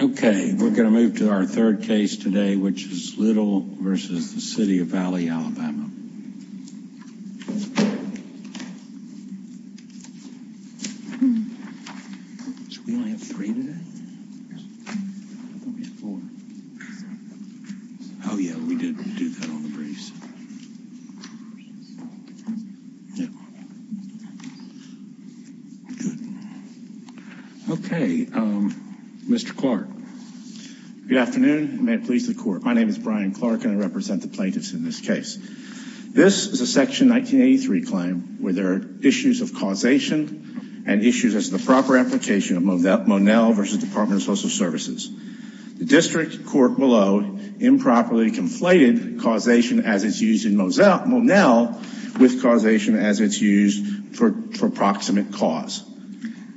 Okay, we're going to move to our third case today, which is Little v. The City of Valley, Alabama. Should we only have three today? Oh yeah, we did do that on the briefs. Okay, Mr. Clark. Good afternoon, and may it please the Court. My name is Brian Clark, and I represent the plaintiffs in this case. This is a Section 1983 claim where there are issues of causation and issues as to the proper application of Monell v. Department of Social Services. The district court below improperly conflated causation as it's used in Monell with causation as it's used for proximate cause.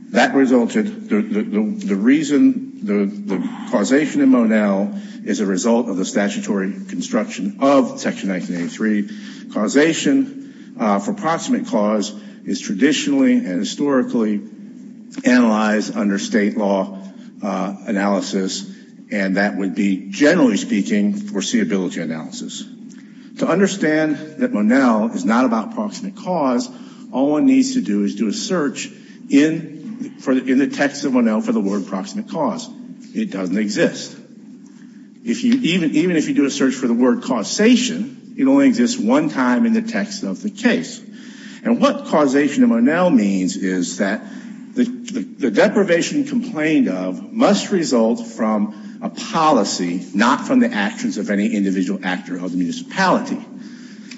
That resulted, the reason, the causation in Monell is a result of the statutory construction of Section 1983. Causation for proximate cause is traditionally and historically analyzed under state law analysis, and that would be, generally speaking, foreseeability analysis. To understand that Monell is not about proximate cause, all one needs to do is do a search in the text of Monell for the word proximate cause. It doesn't exist. Even if you do a search for the word causation, it only exists one time in the text of the case. And what causation in Monell means is that the deprivation complained of must result from a policy, not from the actions of any individual actor of the municipality.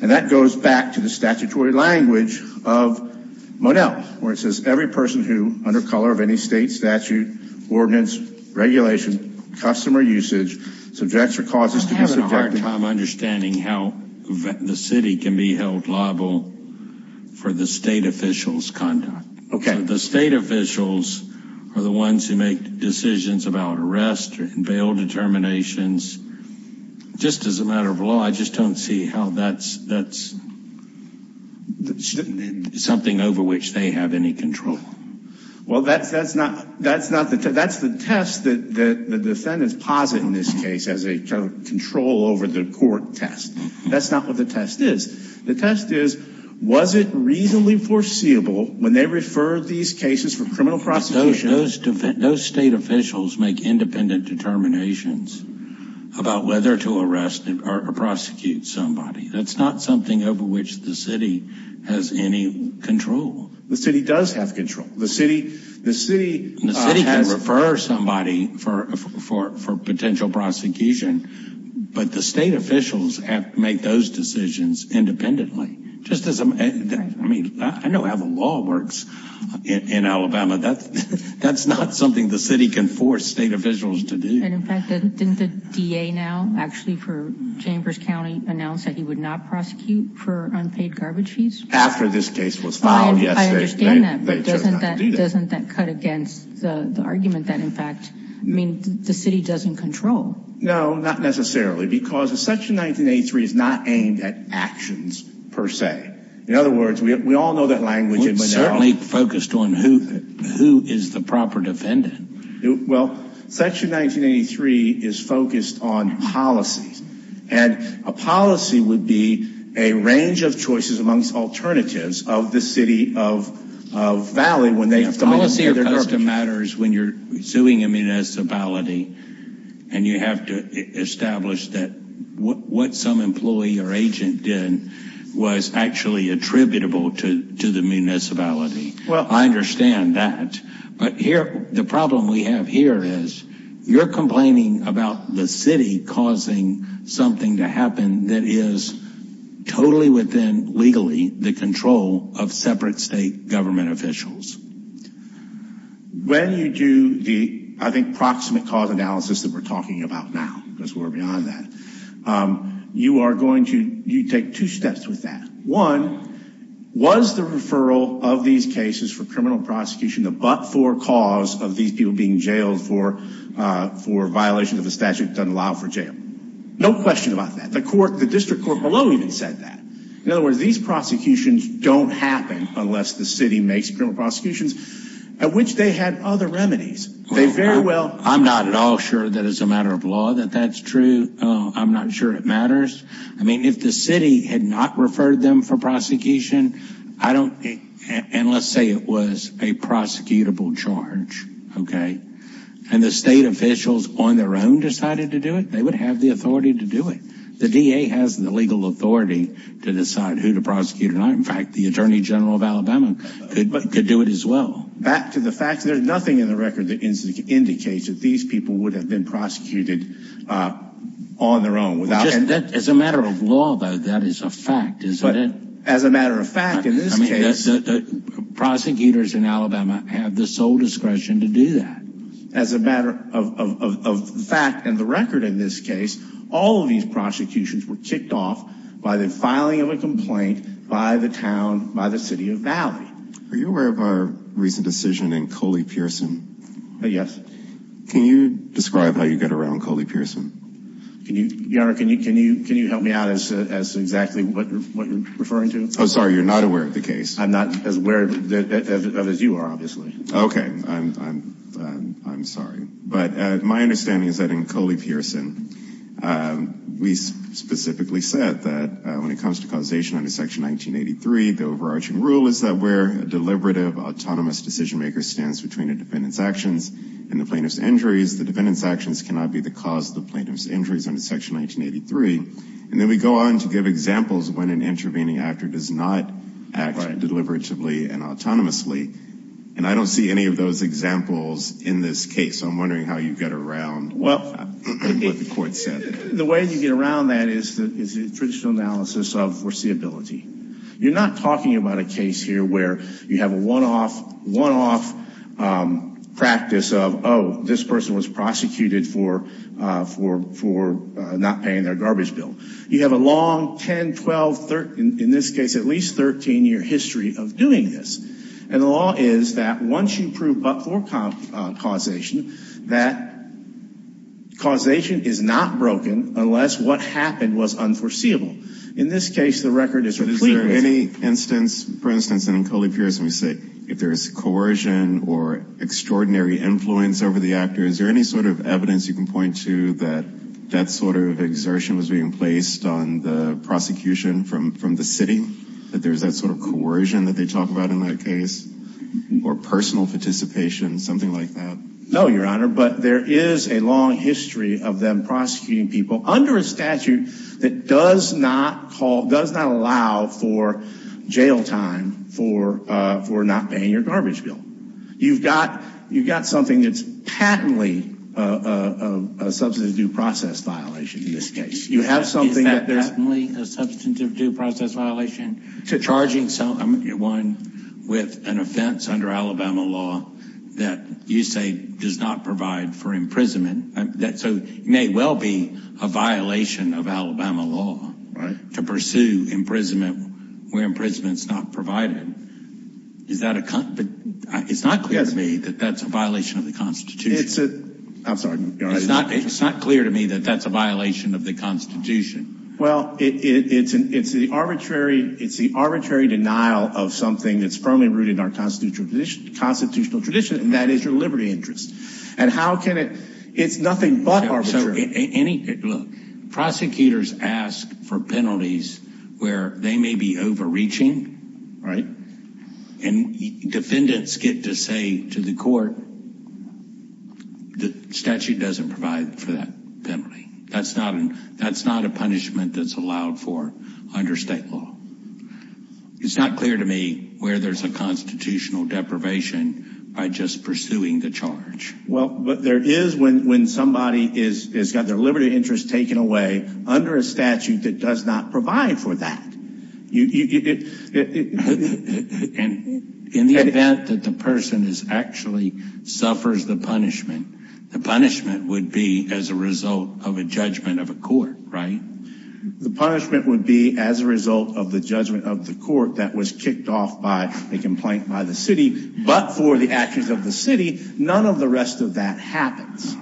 And that goes back to the statutory language of Monell, where it says every person who, under color of any state statute, ordinance, regulation, customer usage, subjects or causes to be subjected. I'm having a hard time understanding how the city can be held liable for the state officials' conduct. The state officials are the ones who make decisions about arrest and bail determinations. Just as a matter of law, I just don't see how that's something over which they have any control. Well, that's the test that the defendants posit in this case as a control over the court test. That's not what the test is. The test is, was it reasonably foreseeable when they referred these cases for criminal prosecution? Those state officials make independent determinations about whether to arrest or prosecute somebody. That's not something over which the city has any control. The city does have control. The city... The city can refer somebody for potential prosecution, but the state officials have to make those decisions independently. I mean, I know how the law works in Alabama. That's not something the city can force state officials to do. And in fact, didn't the DA now, actually for Chambers County, announce that he would not prosecute for unpaid garbage fees? After this case was filed yesterday. I understand that, but doesn't that cut against the argument that in fact, I mean, the city doesn't control? No, not necessarily, because Section 1983 is not aimed at actions per se. In other words, we all know that language. It's certainly focused on who is the proper defendant. Well, Section 1983 is focused on policies. And a policy would be a range of choices amongst alternatives of the city of Valley when they... Policy or custom matters when you're suing a municipality and you have to establish that what some employee or agent did was actually attributable to the municipality. Well, I understand that. But here, the problem we have here is you're complaining about the city causing something to happen that is totally within legally the control of separate state government officials. When you do the, I think, proximate cause analysis that we're talking about now, because we're beyond that, you are going to take two steps with that. One, was the referral of these cases for criminal prosecution the but-for cause of these people being jailed for violation of a statute that doesn't allow for jail? No question about that. The court, the district court below even said that. In other words, these prosecutions don't happen unless the city makes criminal prosecutions at which they had other remedies. They very well... I'm not at all sure that it's a matter of law that that's true. I'm not sure it matters. I mean, if the city had not referred them for prosecution, I don't... And let's say it was a prosecutable charge, okay? And the state officials on their own decided to do it, they would have the authority to do it. The DA has the legal authority to decide who to prosecute or not. In fact, the Attorney General of Alabama could do it as well. Back to the fact that there's nothing in the record that indicates that these people would have been prosecuted on their own without... As a matter of law, though, that is a fact, isn't it? As a matter of fact, in this case... Prosecutors in Alabama have the sole discretion to do that. As a matter of fact and the record in this case, all of these prosecutions were kicked off by the filing of a complaint by the town, by the city of Valley. Are you aware of our recent decision in Coley Pearson? Yes. Can you describe how you got around Coley Pearson? Your Honor, can you help me out as to exactly what you're referring to? Oh, sorry, you're not aware of the case? I'm not as aware of it as you are, obviously. Okay. I'm sorry. But my understanding is that in Coley Pearson, we specifically said that when it comes to causation under Section 1983, the overarching rule is that where a deliberative, autonomous decision-maker stands between a defendant's actions and the plaintiff's injuries, the defendant's actions cannot be the cause of the plaintiff's injuries under Section 1983. And then we go on to give examples when an intervening actor does not act deliberatively and autonomously. And I don't see any of those examples in this case. So I'm wondering how you get around what the court said. The way you get around that is the traditional analysis of foreseeability. You're not talking about a case here where you have a one-off practice of, oh, this person was prosecuted for not paying their garbage bill. You have a long 10, 12, in this case at least 13-year history of doing this. And the law is that once you prove but-for causation, that causation is not broken unless what happened was unforeseeable. In this case, the record is complete. Is there any instance, for instance, in Coley-Pierce, we say if there's coercion or extraordinary influence over the actor, is there any sort of evidence you can point to that that sort of exertion was being placed on the prosecution from the city, that there's that sort of coercion that they talk about in that case, or personal participation, something like that? No, Your Honor, but there is a long history of them prosecuting people under a statute that does not allow for jail time for not paying your garbage bill. You've got something that's patently a substantive due process violation in this case. Is that patently a substantive due process violation? Charging someone with an offense under Alabama law that you say does not provide for imprisonment, so it may well be a violation of Alabama law to pursue imprisonment where imprisonment's not provided. Is that a – it's not clear to me that that's a violation of the Constitution. I'm sorry, Your Honor. It's not clear to me that that's a violation of the Constitution. Well, it's the arbitrary denial of something that's firmly rooted in our constitutional tradition, and that is your liberty interest. And how can it – it's nothing but arbitrary. Look, prosecutors ask for penalties where they may be overreaching. Right. And defendants get to say to the court, the statute doesn't provide for that penalty. That's not a punishment that's allowed for under state law. It's not clear to me where there's a constitutional deprivation by just pursuing the charge. Well, but there is when somebody has got their liberty interest taken away under a statute that does not provide for that. And in the event that the person actually suffers the punishment, the punishment would be as a result of a judgment of a court, right? The punishment would be as a result of the judgment of the court that was kicked off by a complaint by the city, but for the actions of the city, none of the rest of that happens.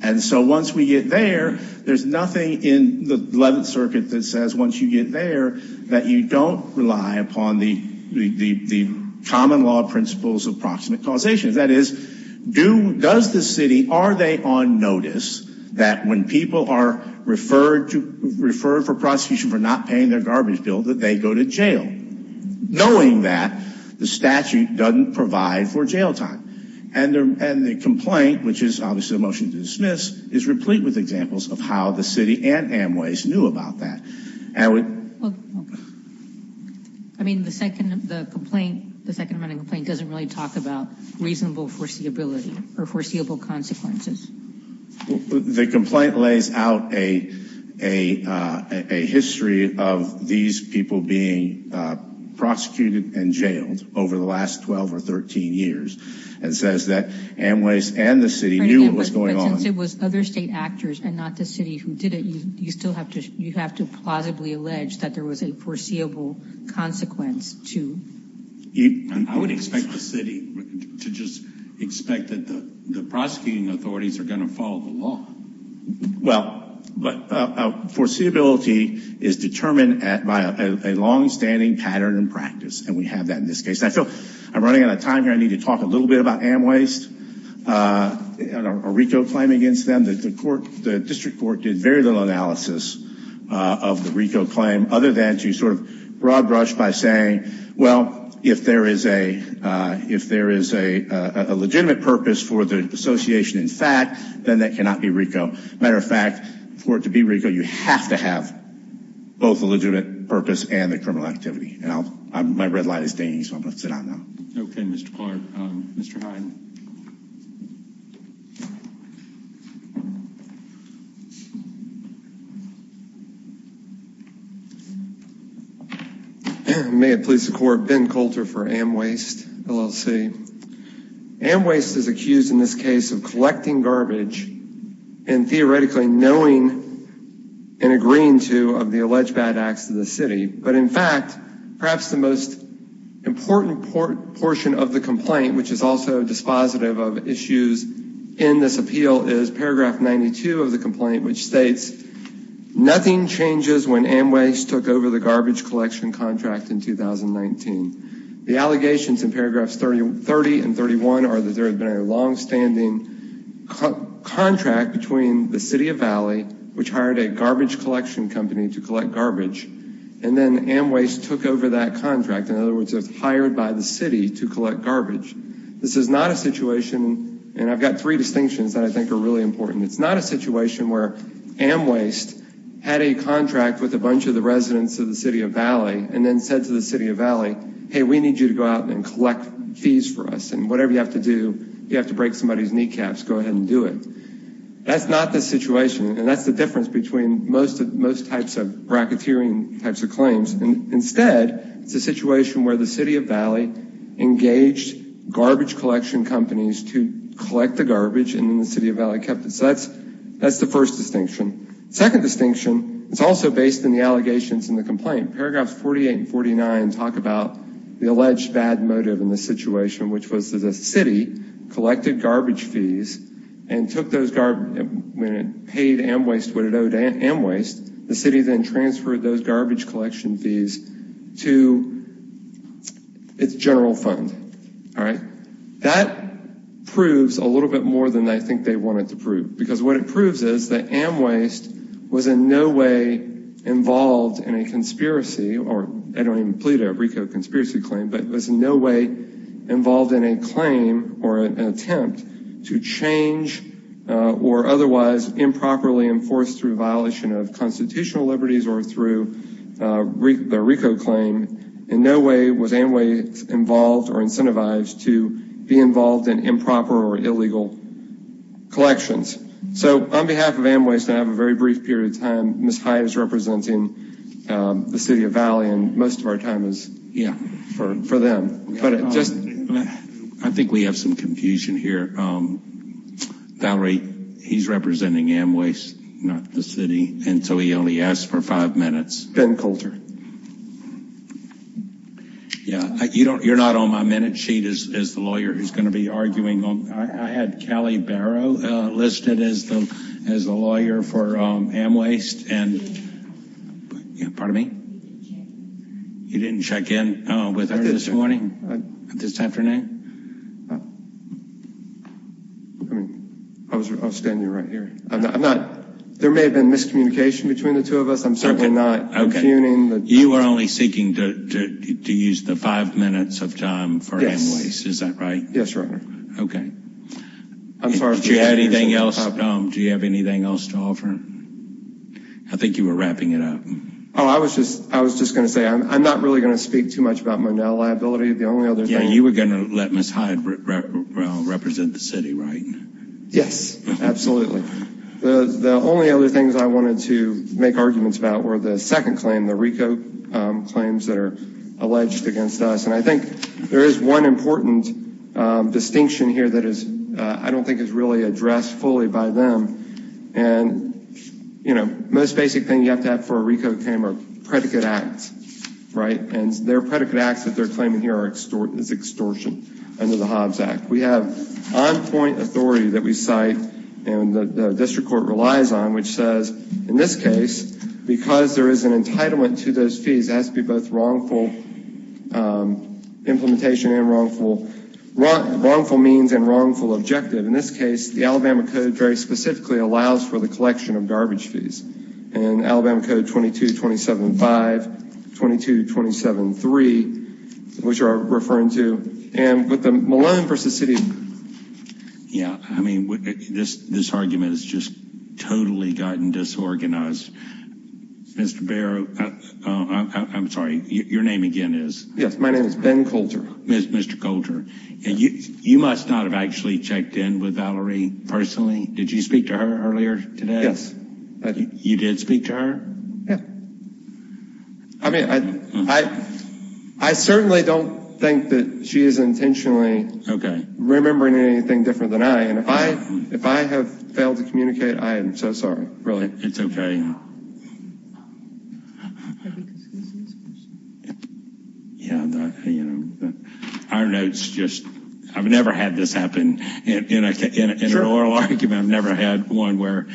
And so once we get there, there's nothing in the 11th Circuit that says once you get there that you don't rely upon the common law principles of proximate causation. That is, does the city – are they on notice that when people are referred for prosecution for not paying their garbage bill that they go to jail, knowing that the statute doesn't provide for jail time? And the complaint, which is obviously a motion to dismiss, is replete with examples of how the city and Amway's knew about that. I mean, the second of the complaint, the second running complaint doesn't really talk about reasonable foreseeability or foreseeable consequences. The complaint lays out a history of these people being prosecuted and jailed over the last 12 or 13 years and says that Amway's and the city knew what was going on. But since it was other state actors and not the city who did it, you still have to – you have to plausibly allege that there was a foreseeable consequence to – I would expect the city to just expect that the prosecuting authorities are going to follow the law. Well, but foreseeability is determined by a longstanding pattern and practice, and we have that in this case. And I feel I'm running out of time here. I need to talk a little bit about Amway's and a RICO claim against them. The district court did very little analysis of the RICO claim other than to sort of broad brush by saying, well, if there is a legitimate purpose for the association in fact, then that cannot be RICO. Matter of fact, for it to be RICO, you have to have both a legitimate purpose and the criminal activity. And my red light is dinging, so I'm going to sit down now. Okay, Mr. Clark. Mr. Hyde. May it please the court, Ben Coulter for Amwaste, LLC. Amwaste is accused in this case of collecting garbage and theoretically knowing and agreeing to of the alleged bad acts of the city. But in fact, perhaps the most important portion of the complaint, which is also dispositive of issues in this appeal, is paragraph 92 of the complaint, which states, nothing changes when Amwaste took over the garbage collection contract in 2019. The allegations in paragraphs 30 and 31 are that there had been a longstanding contract between the city of Valley, which hired a garbage collection company to collect garbage, and then Amwaste took over that contract. In other words, it was hired by the city to collect garbage. This is not a situation, and I've got three distinctions that I think are really important. It's not a situation where Amwaste had a contract with a bunch of the residents of the city of Valley and then said to the city of Valley, hey, we need you to go out and collect fees for us. And whatever you have to do, if you have to break somebody's kneecaps, go ahead and do it. That's not the situation, and that's the difference between most types of bracketeering types of claims. Instead, it's a situation where the city of Valley engaged garbage collection companies to collect the garbage, and then the city of Valley kept it. So that's the first distinction. The second distinction is also based on the allegations in the complaint. Paragraphs 48 and 49 talk about the alleged bad motive in this situation, which was that the city collected garbage fees and took those garbage, when it paid Amwaste what it owed Amwaste, the city then transferred those garbage collection fees to its general fund. All right? That proves a little bit more than I think they wanted to prove, because what it proves is that Amwaste was in no way involved in a conspiracy, or I don't even plead a RICO conspiracy claim, but was in no way involved in a claim or an attempt to change or otherwise improperly enforce through violation of constitutional liberties or through the RICO claim. In no way was Amwaste involved or incentivized to be involved in improper or illegal collections. So on behalf of Amwaste, I have a very brief period of time. Ms. Hive is representing the city of Valley, and most of our time is for them. I think we have some confusion here. Valerie, he's representing Amwaste, not the city, and so he only asked for five minutes. Ben Coulter. You're not on my minute sheet as the lawyer who's going to be arguing. I had Callie Barrow listed as the lawyer for Amwaste. Pardon me? You didn't check in with her this morning, this afternoon? I'll stand you right here. There may have been miscommunication between the two of us. I'm certainly not confusing. You were only seeking to use the five minutes of time for Amwaste, is that right? Yes, Your Honor. Okay. Do you have anything else to offer? I think you were wrapping it up. I was just going to say, I'm not really going to speak too much about Monell liability. You were going to let Ms. Hive represent the city, right? Yes, absolutely. The only other things I wanted to make arguments about were the second claim, the RICO claims that are alleged against us. And I think there is one important distinction here that I don't think is really addressed fully by them. And, you know, the most basic thing you have to have for a RICO claim are predicate acts, right? And their predicate acts that they're claiming here is extortion under the Hobbs Act. We have on-point authority that we cite and the district court relies on, which says, in this case, because there is an entitlement to those fees, it has to be both wrongful implementation and wrongful means and wrongful objective. In this case, the Alabama Code very specifically allows for the collection of garbage fees. And Alabama Code 22-27-5, 22-27-3, which are referring to. And with the Malone v. City. Yeah, I mean, this argument has just totally gotten disorganized. Mr. Barrow, I'm sorry, your name again is? Yes, my name is Ben Coulter. Mr. Coulter. And you must not have actually checked in with Valerie personally. Did you speak to her earlier today? Yes. You did speak to her? Yeah. I mean, I certainly don't think that she is intentionally remembering anything different than I. And if I have failed to communicate, I am so sorry, really. It's okay. Our notes just, I've never had this happen in an oral argument. I've never had one where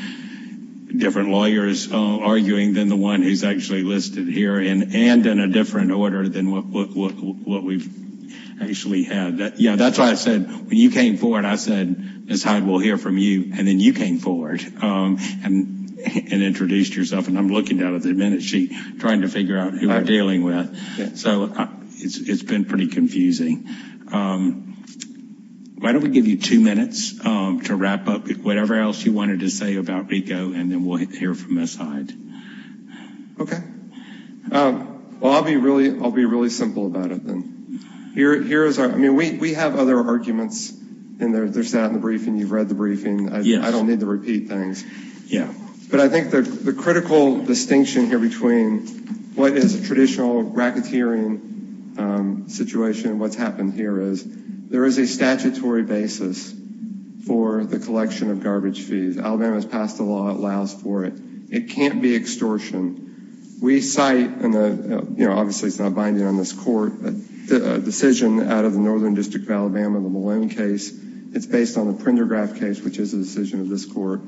different lawyers are arguing than the one who's actually listed here. And in a different order than what we've actually had. Yeah, that's why I said when you came forward, I said Ms. Hyde, we'll hear from you. And then you came forward and introduced yourself. And I'm looking at the minutesheet trying to figure out who we're dealing with. So it's been pretty confusing. Why don't we give you two minutes to wrap up whatever else you wanted to say about RICO, and then we'll hear from Ms. Hyde. Okay. Well, I'll be really simple about it then. Here is our, I mean, we have other arguments in there. There's that in the briefing. You've read the briefing. I don't need to repeat things. Yeah. But I think the critical distinction here between what is a traditional racketeering situation and what's happened here is there is a statutory basis for the collection of garbage fees. Alabama has passed a law that allows for it. It can't be extortion. We cite, and obviously it's not binding on this court, a decision out of the Northern District of Alabama, the Malone case. It's based on the Prendergraf case, which is a decision of this court.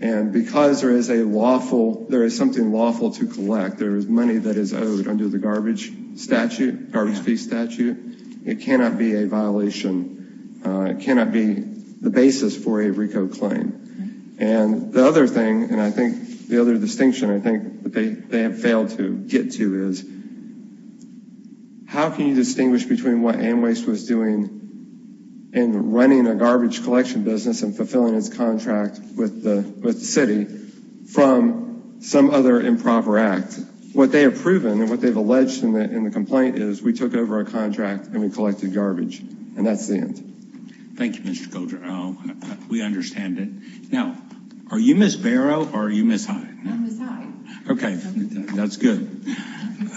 And because there is a lawful, there is something lawful to collect. There is money that is owed under the garbage statute, garbage fee statute. It cannot be a violation. It cannot be the basis for a RICO claim. And the other thing, and I think the other distinction I think that they have failed to get to is, how can you distinguish between what Amwaste was doing in running a garbage collection business and fulfilling its contract with the city from some other improper act? What they have proven and what they've alleged in the complaint is we took over our contract and we collected garbage. And that's the end. Thank you, Mr. Coulter. We understand it. Now, are you Ms. Barrow or are you Ms. Hyde? I'm Ms. Hyde. Okay. That's good.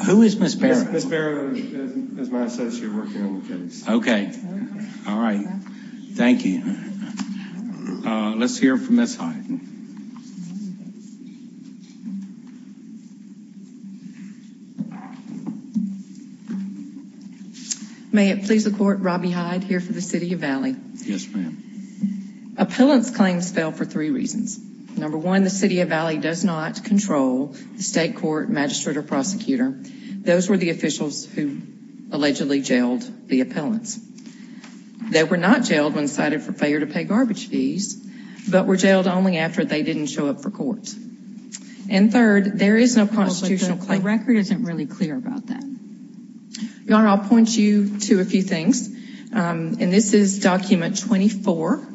Who is Ms. Barrow? Ms. Barrow is my associate working on the case. Okay. All right. Thank you. Let's hear from Ms. Hyde. May it please the court, Robbie Hyde here for the City of Valley. Yes, ma'am. Appellants' claims fell for three reasons. Number one, the City of Valley does not control the state court, magistrate, or prosecutor. Those were the officials who allegedly jailed the appellants. They were not jailed when cited for failure to pay garbage fees, but were jailed only after they didn't show up for court. And third, there is no constitutional claim. The record isn't really clear about that. Your Honor, I'll point you to a few things. And this is document 24.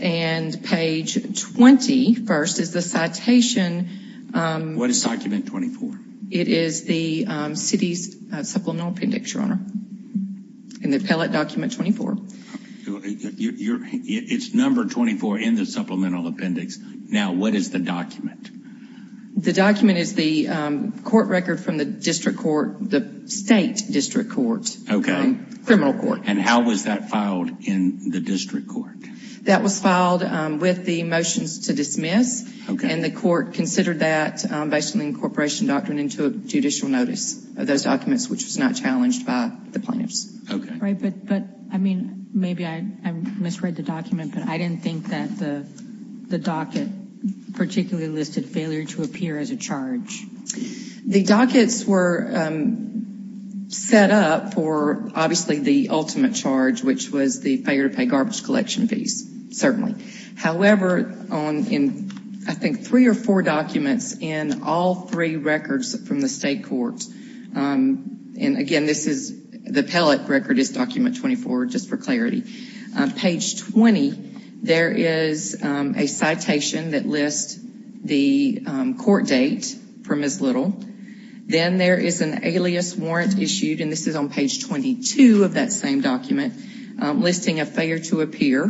And page 21st is the citation. What is document 24? It is the city's supplemental appendix, Your Honor. In the appellate document 24. It's number 24 in the supplemental appendix. Now, what is the document? The document is the court record from the district court, the state district court. Okay. Criminal court. And how was that filed in the district court? That was filed with the motions to dismiss. And the court considered that based on the incorporation doctrine of those documents, which was not challenged by the plaintiffs. Right, but, I mean, maybe I misread the document, but I didn't think that the docket particularly listed failure to appear as a charge. The dockets were set up for, obviously, the ultimate charge, which was the failure to pay garbage collection fees, certainly. However, in, I think, three or four documents in all three records from the state court, and, again, this is, the appellate record is document 24, just for clarity. Page 20, there is a citation that lists the court date for Ms. Little. Then there is an alias warrant issued, and this is on page 22 of that same document, listing a failure to appear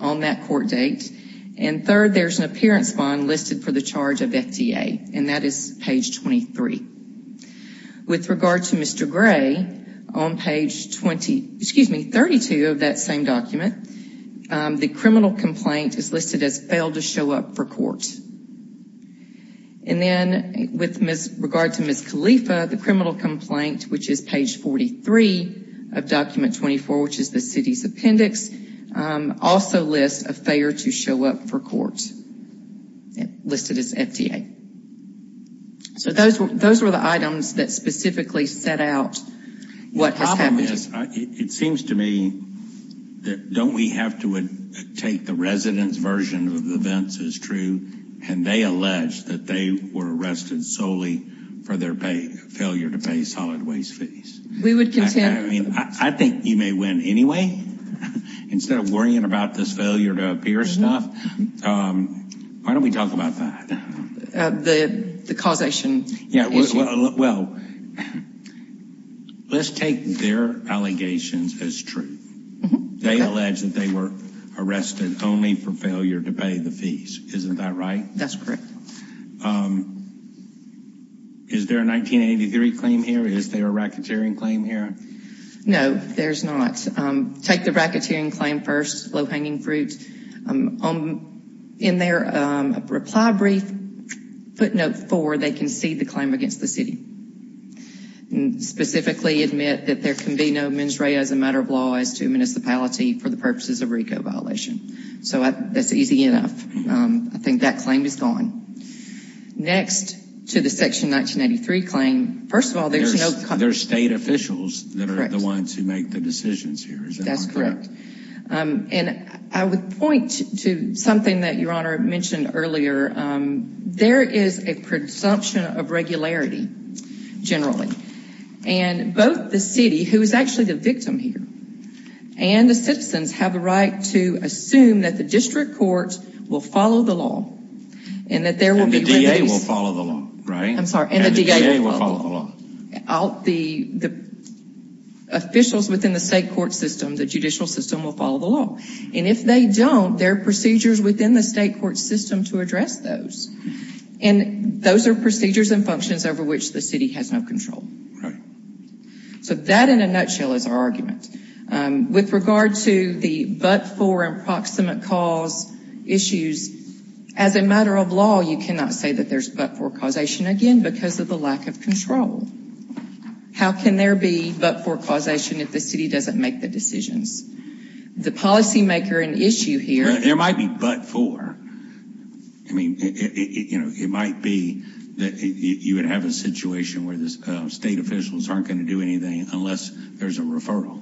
on that court date. And, third, there is an appearance bond listed for the charge of FDA, and that is page 23. With regard to Mr. Gray, on page 20, excuse me, 32 of that same document, the criminal complaint is listed as failed to show up for court. And then, with regard to Ms. Khalifa, the criminal complaint, which is page 43 of document 24, which is the city's appendix, also lists a failure to show up for court, listed as FDA. So those were the items that specifically set out what has happened. The problem is, it seems to me, that don't we have to take the resident's version of events as true, and they allege that they were arrested solely for their failure to pay solid waste fees. I mean, I think you may win anyway. Instead of worrying about this failure to appear stuff, why don't we talk about that? The causation issue. Yeah, well, let's take their allegations as true. They allege that they were arrested only for failure to pay the fees. Isn't that right? That's correct. Is there a 1983 claim here? Is there a racketeering claim here? No, there's not. Take the racketeering claim first, low-hanging fruit. In their reply brief, footnote four, they concede the claim against the city, and specifically admit that there can be no mens rea as a matter of law as to a municipality for the purposes of RICO violation. So that's easy enough. I think that claim is gone. Next to the Section 1983 claim, first of all, there's no company. They're state officials that are the ones who make the decisions here. That's correct. And I would point to something that Your Honor mentioned earlier. There is a presumption of regularity, generally, and both the city, who is actually the victim here, and the citizens have a right to assume that the district court will follow the law and that there will be remedies. And the DA will follow the law, right? I'm sorry, and the DA will follow the law. The officials within the state court system, the judicial system, will follow the law. And if they don't, there are procedures within the state court system to address those. And those are procedures and functions over which the city has no control. Right. So that, in a nutshell, is our argument. With regard to the but-for and proximate cause issues, as a matter of law, you cannot say that there's but-for causation again because of the lack of control. How can there be but-for causation if the city doesn't make the decisions? The policymaker and issue here— There might be but-for. I mean, it might be that you would have a situation where the state officials aren't going to do anything unless there's a referral.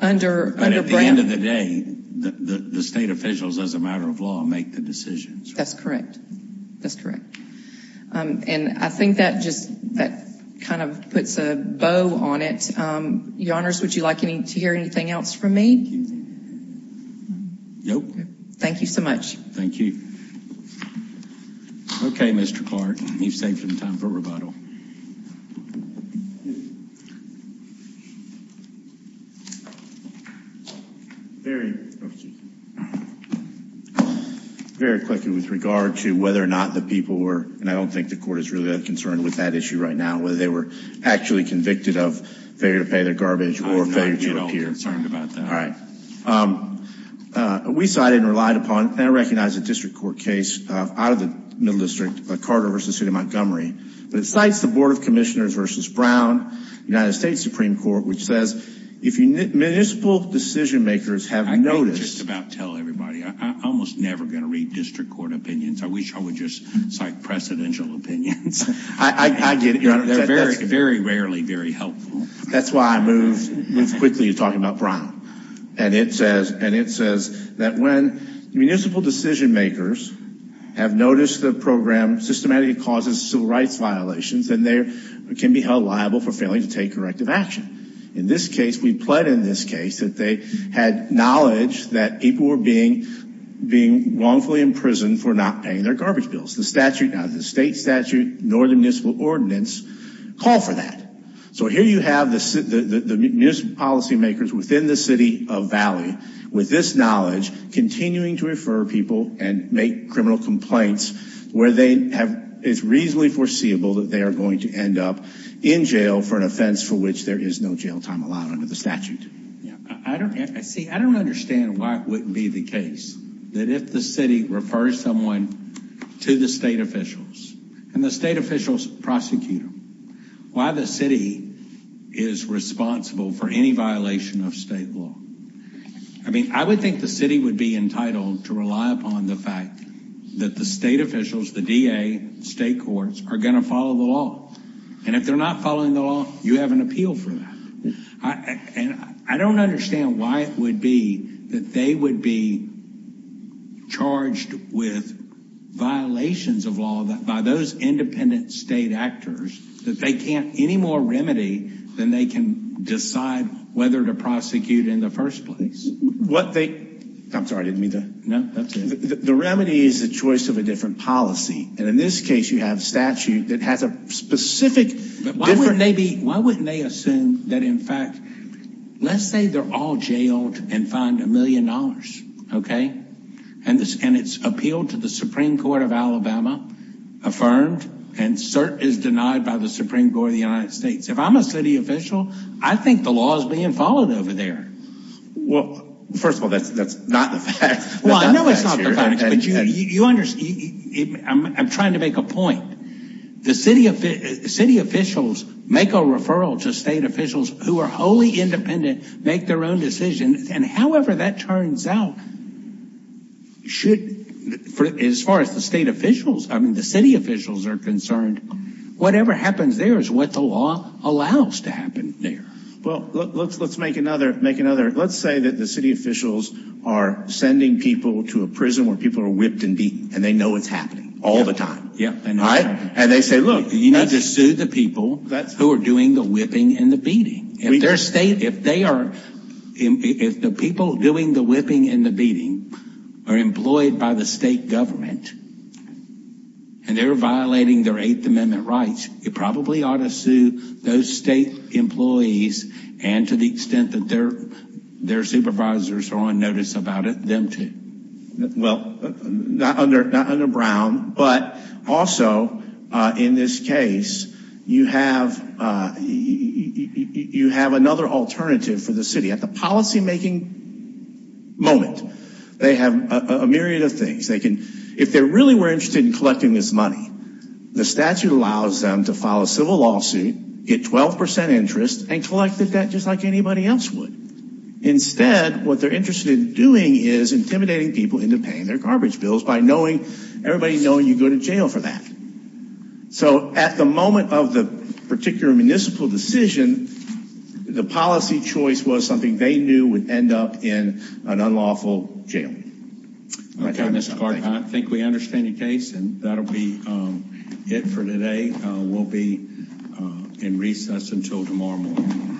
Under— But at the end of the day, the state officials, as a matter of law, make the decisions. That's correct. That's correct. And I think that just kind of puts a bow on it. Your Honors, would you like to hear anything else from me? Nope. Thank you so much. Thank you. Okay, Mr. Clark, you've saved some time for rebuttal. Very quickly with regard to whether or not the people were— and I don't think the Court is really concerned with that issue right now— whether they were actually convicted of failure to pay their garbage or failure to appear. I'm not at all concerned about that. All right. We cited and relied upon—and I recognize a district court case out of the Middle District, Carter v. City of Montgomery. But it cites the Board of Commissioners v. Brown, United States Supreme Court, which says, if municipal decision-makers have noticed— I can't just about tell everybody. I'm almost never going to read district court opinions. I wish I would just cite precedential opinions. I get it, Your Honors. That's very rarely very helpful. That's why I moved quickly to talking about Brown. And it says that when municipal decision-makers have noticed the program systematically causes civil rights violations, then they can be held liable for failing to take corrective action. In this case, we pled in this case that they had knowledge that people were being wrongfully imprisoned for not paying their garbage bills. The statute, neither the state statute nor the municipal ordinance call for that. So here you have the municipal policy-makers within the City of Valley with this knowledge continuing to refer people and make criminal complaints where it's reasonably foreseeable that they are going to end up in jail for an offense for which there is no jail time allowed under the statute. See, I don't understand why it wouldn't be the case that if the city refers someone to the state officials and the state officials prosecute them, why the city is responsible for any violation of state law. I mean, I would think the city would be entitled to rely upon the fact that the state officials, the DA, state courts, are going to follow the law. And if they're not following the law, you have an appeal for that. And I don't understand why it would be that they would be charged with violations of law by those independent state actors that they can't any more remedy than they can decide whether to prosecute in the first place. I'm sorry, I didn't mean that. No, that's it. The remedy is the choice of a different policy. And in this case, you have a statute that has a specific... Why wouldn't they assume that in fact, let's say they're all jailed and fined a million dollars, okay? And it's appealed to the Supreme Court of Alabama, affirmed, and cert is denied by the Supreme Court of the United States. If I'm a city official, I think the law is being followed over there. Well, first of all, that's not the facts. Well, I know it's not the facts. But you understand, I'm trying to make a point. The city officials make a referral to state officials who are wholly independent, make their own decisions. And however that turns out, should, as far as the state officials, I mean the city officials are concerned, whatever happens there is what the law allows to happen there. Well, let's make another... Let's say that the city officials are sending people to a prison where people are whipped and beaten, and they know it's happening all the time, right? And they say, look... You need to sue the people who are doing the whipping and the beating. If the people doing the whipping and the beating are employed by the state government, and they're violating their Eighth Amendment rights, it probably ought to sue those state employees, and to the extent that their supervisors are on notice about it, them too. Well, not under Brown, but also in this case, you have another alternative for the city. At the policymaking moment, they have a myriad of things. If they really were interested in collecting this money, the statute allows them to file a civil lawsuit, get 12 percent interest, and collect the debt just like anybody else would. Instead, what they're interested in doing is intimidating people into paying their garbage bills by everybody knowing you go to jail for that. So at the moment of the particular municipal decision, the policy choice was something they knew would end up in an unlawful jail. Okay, Mr. Clark, I think we understand your case, and that'll be it for today. We'll be in recess until tomorrow morning.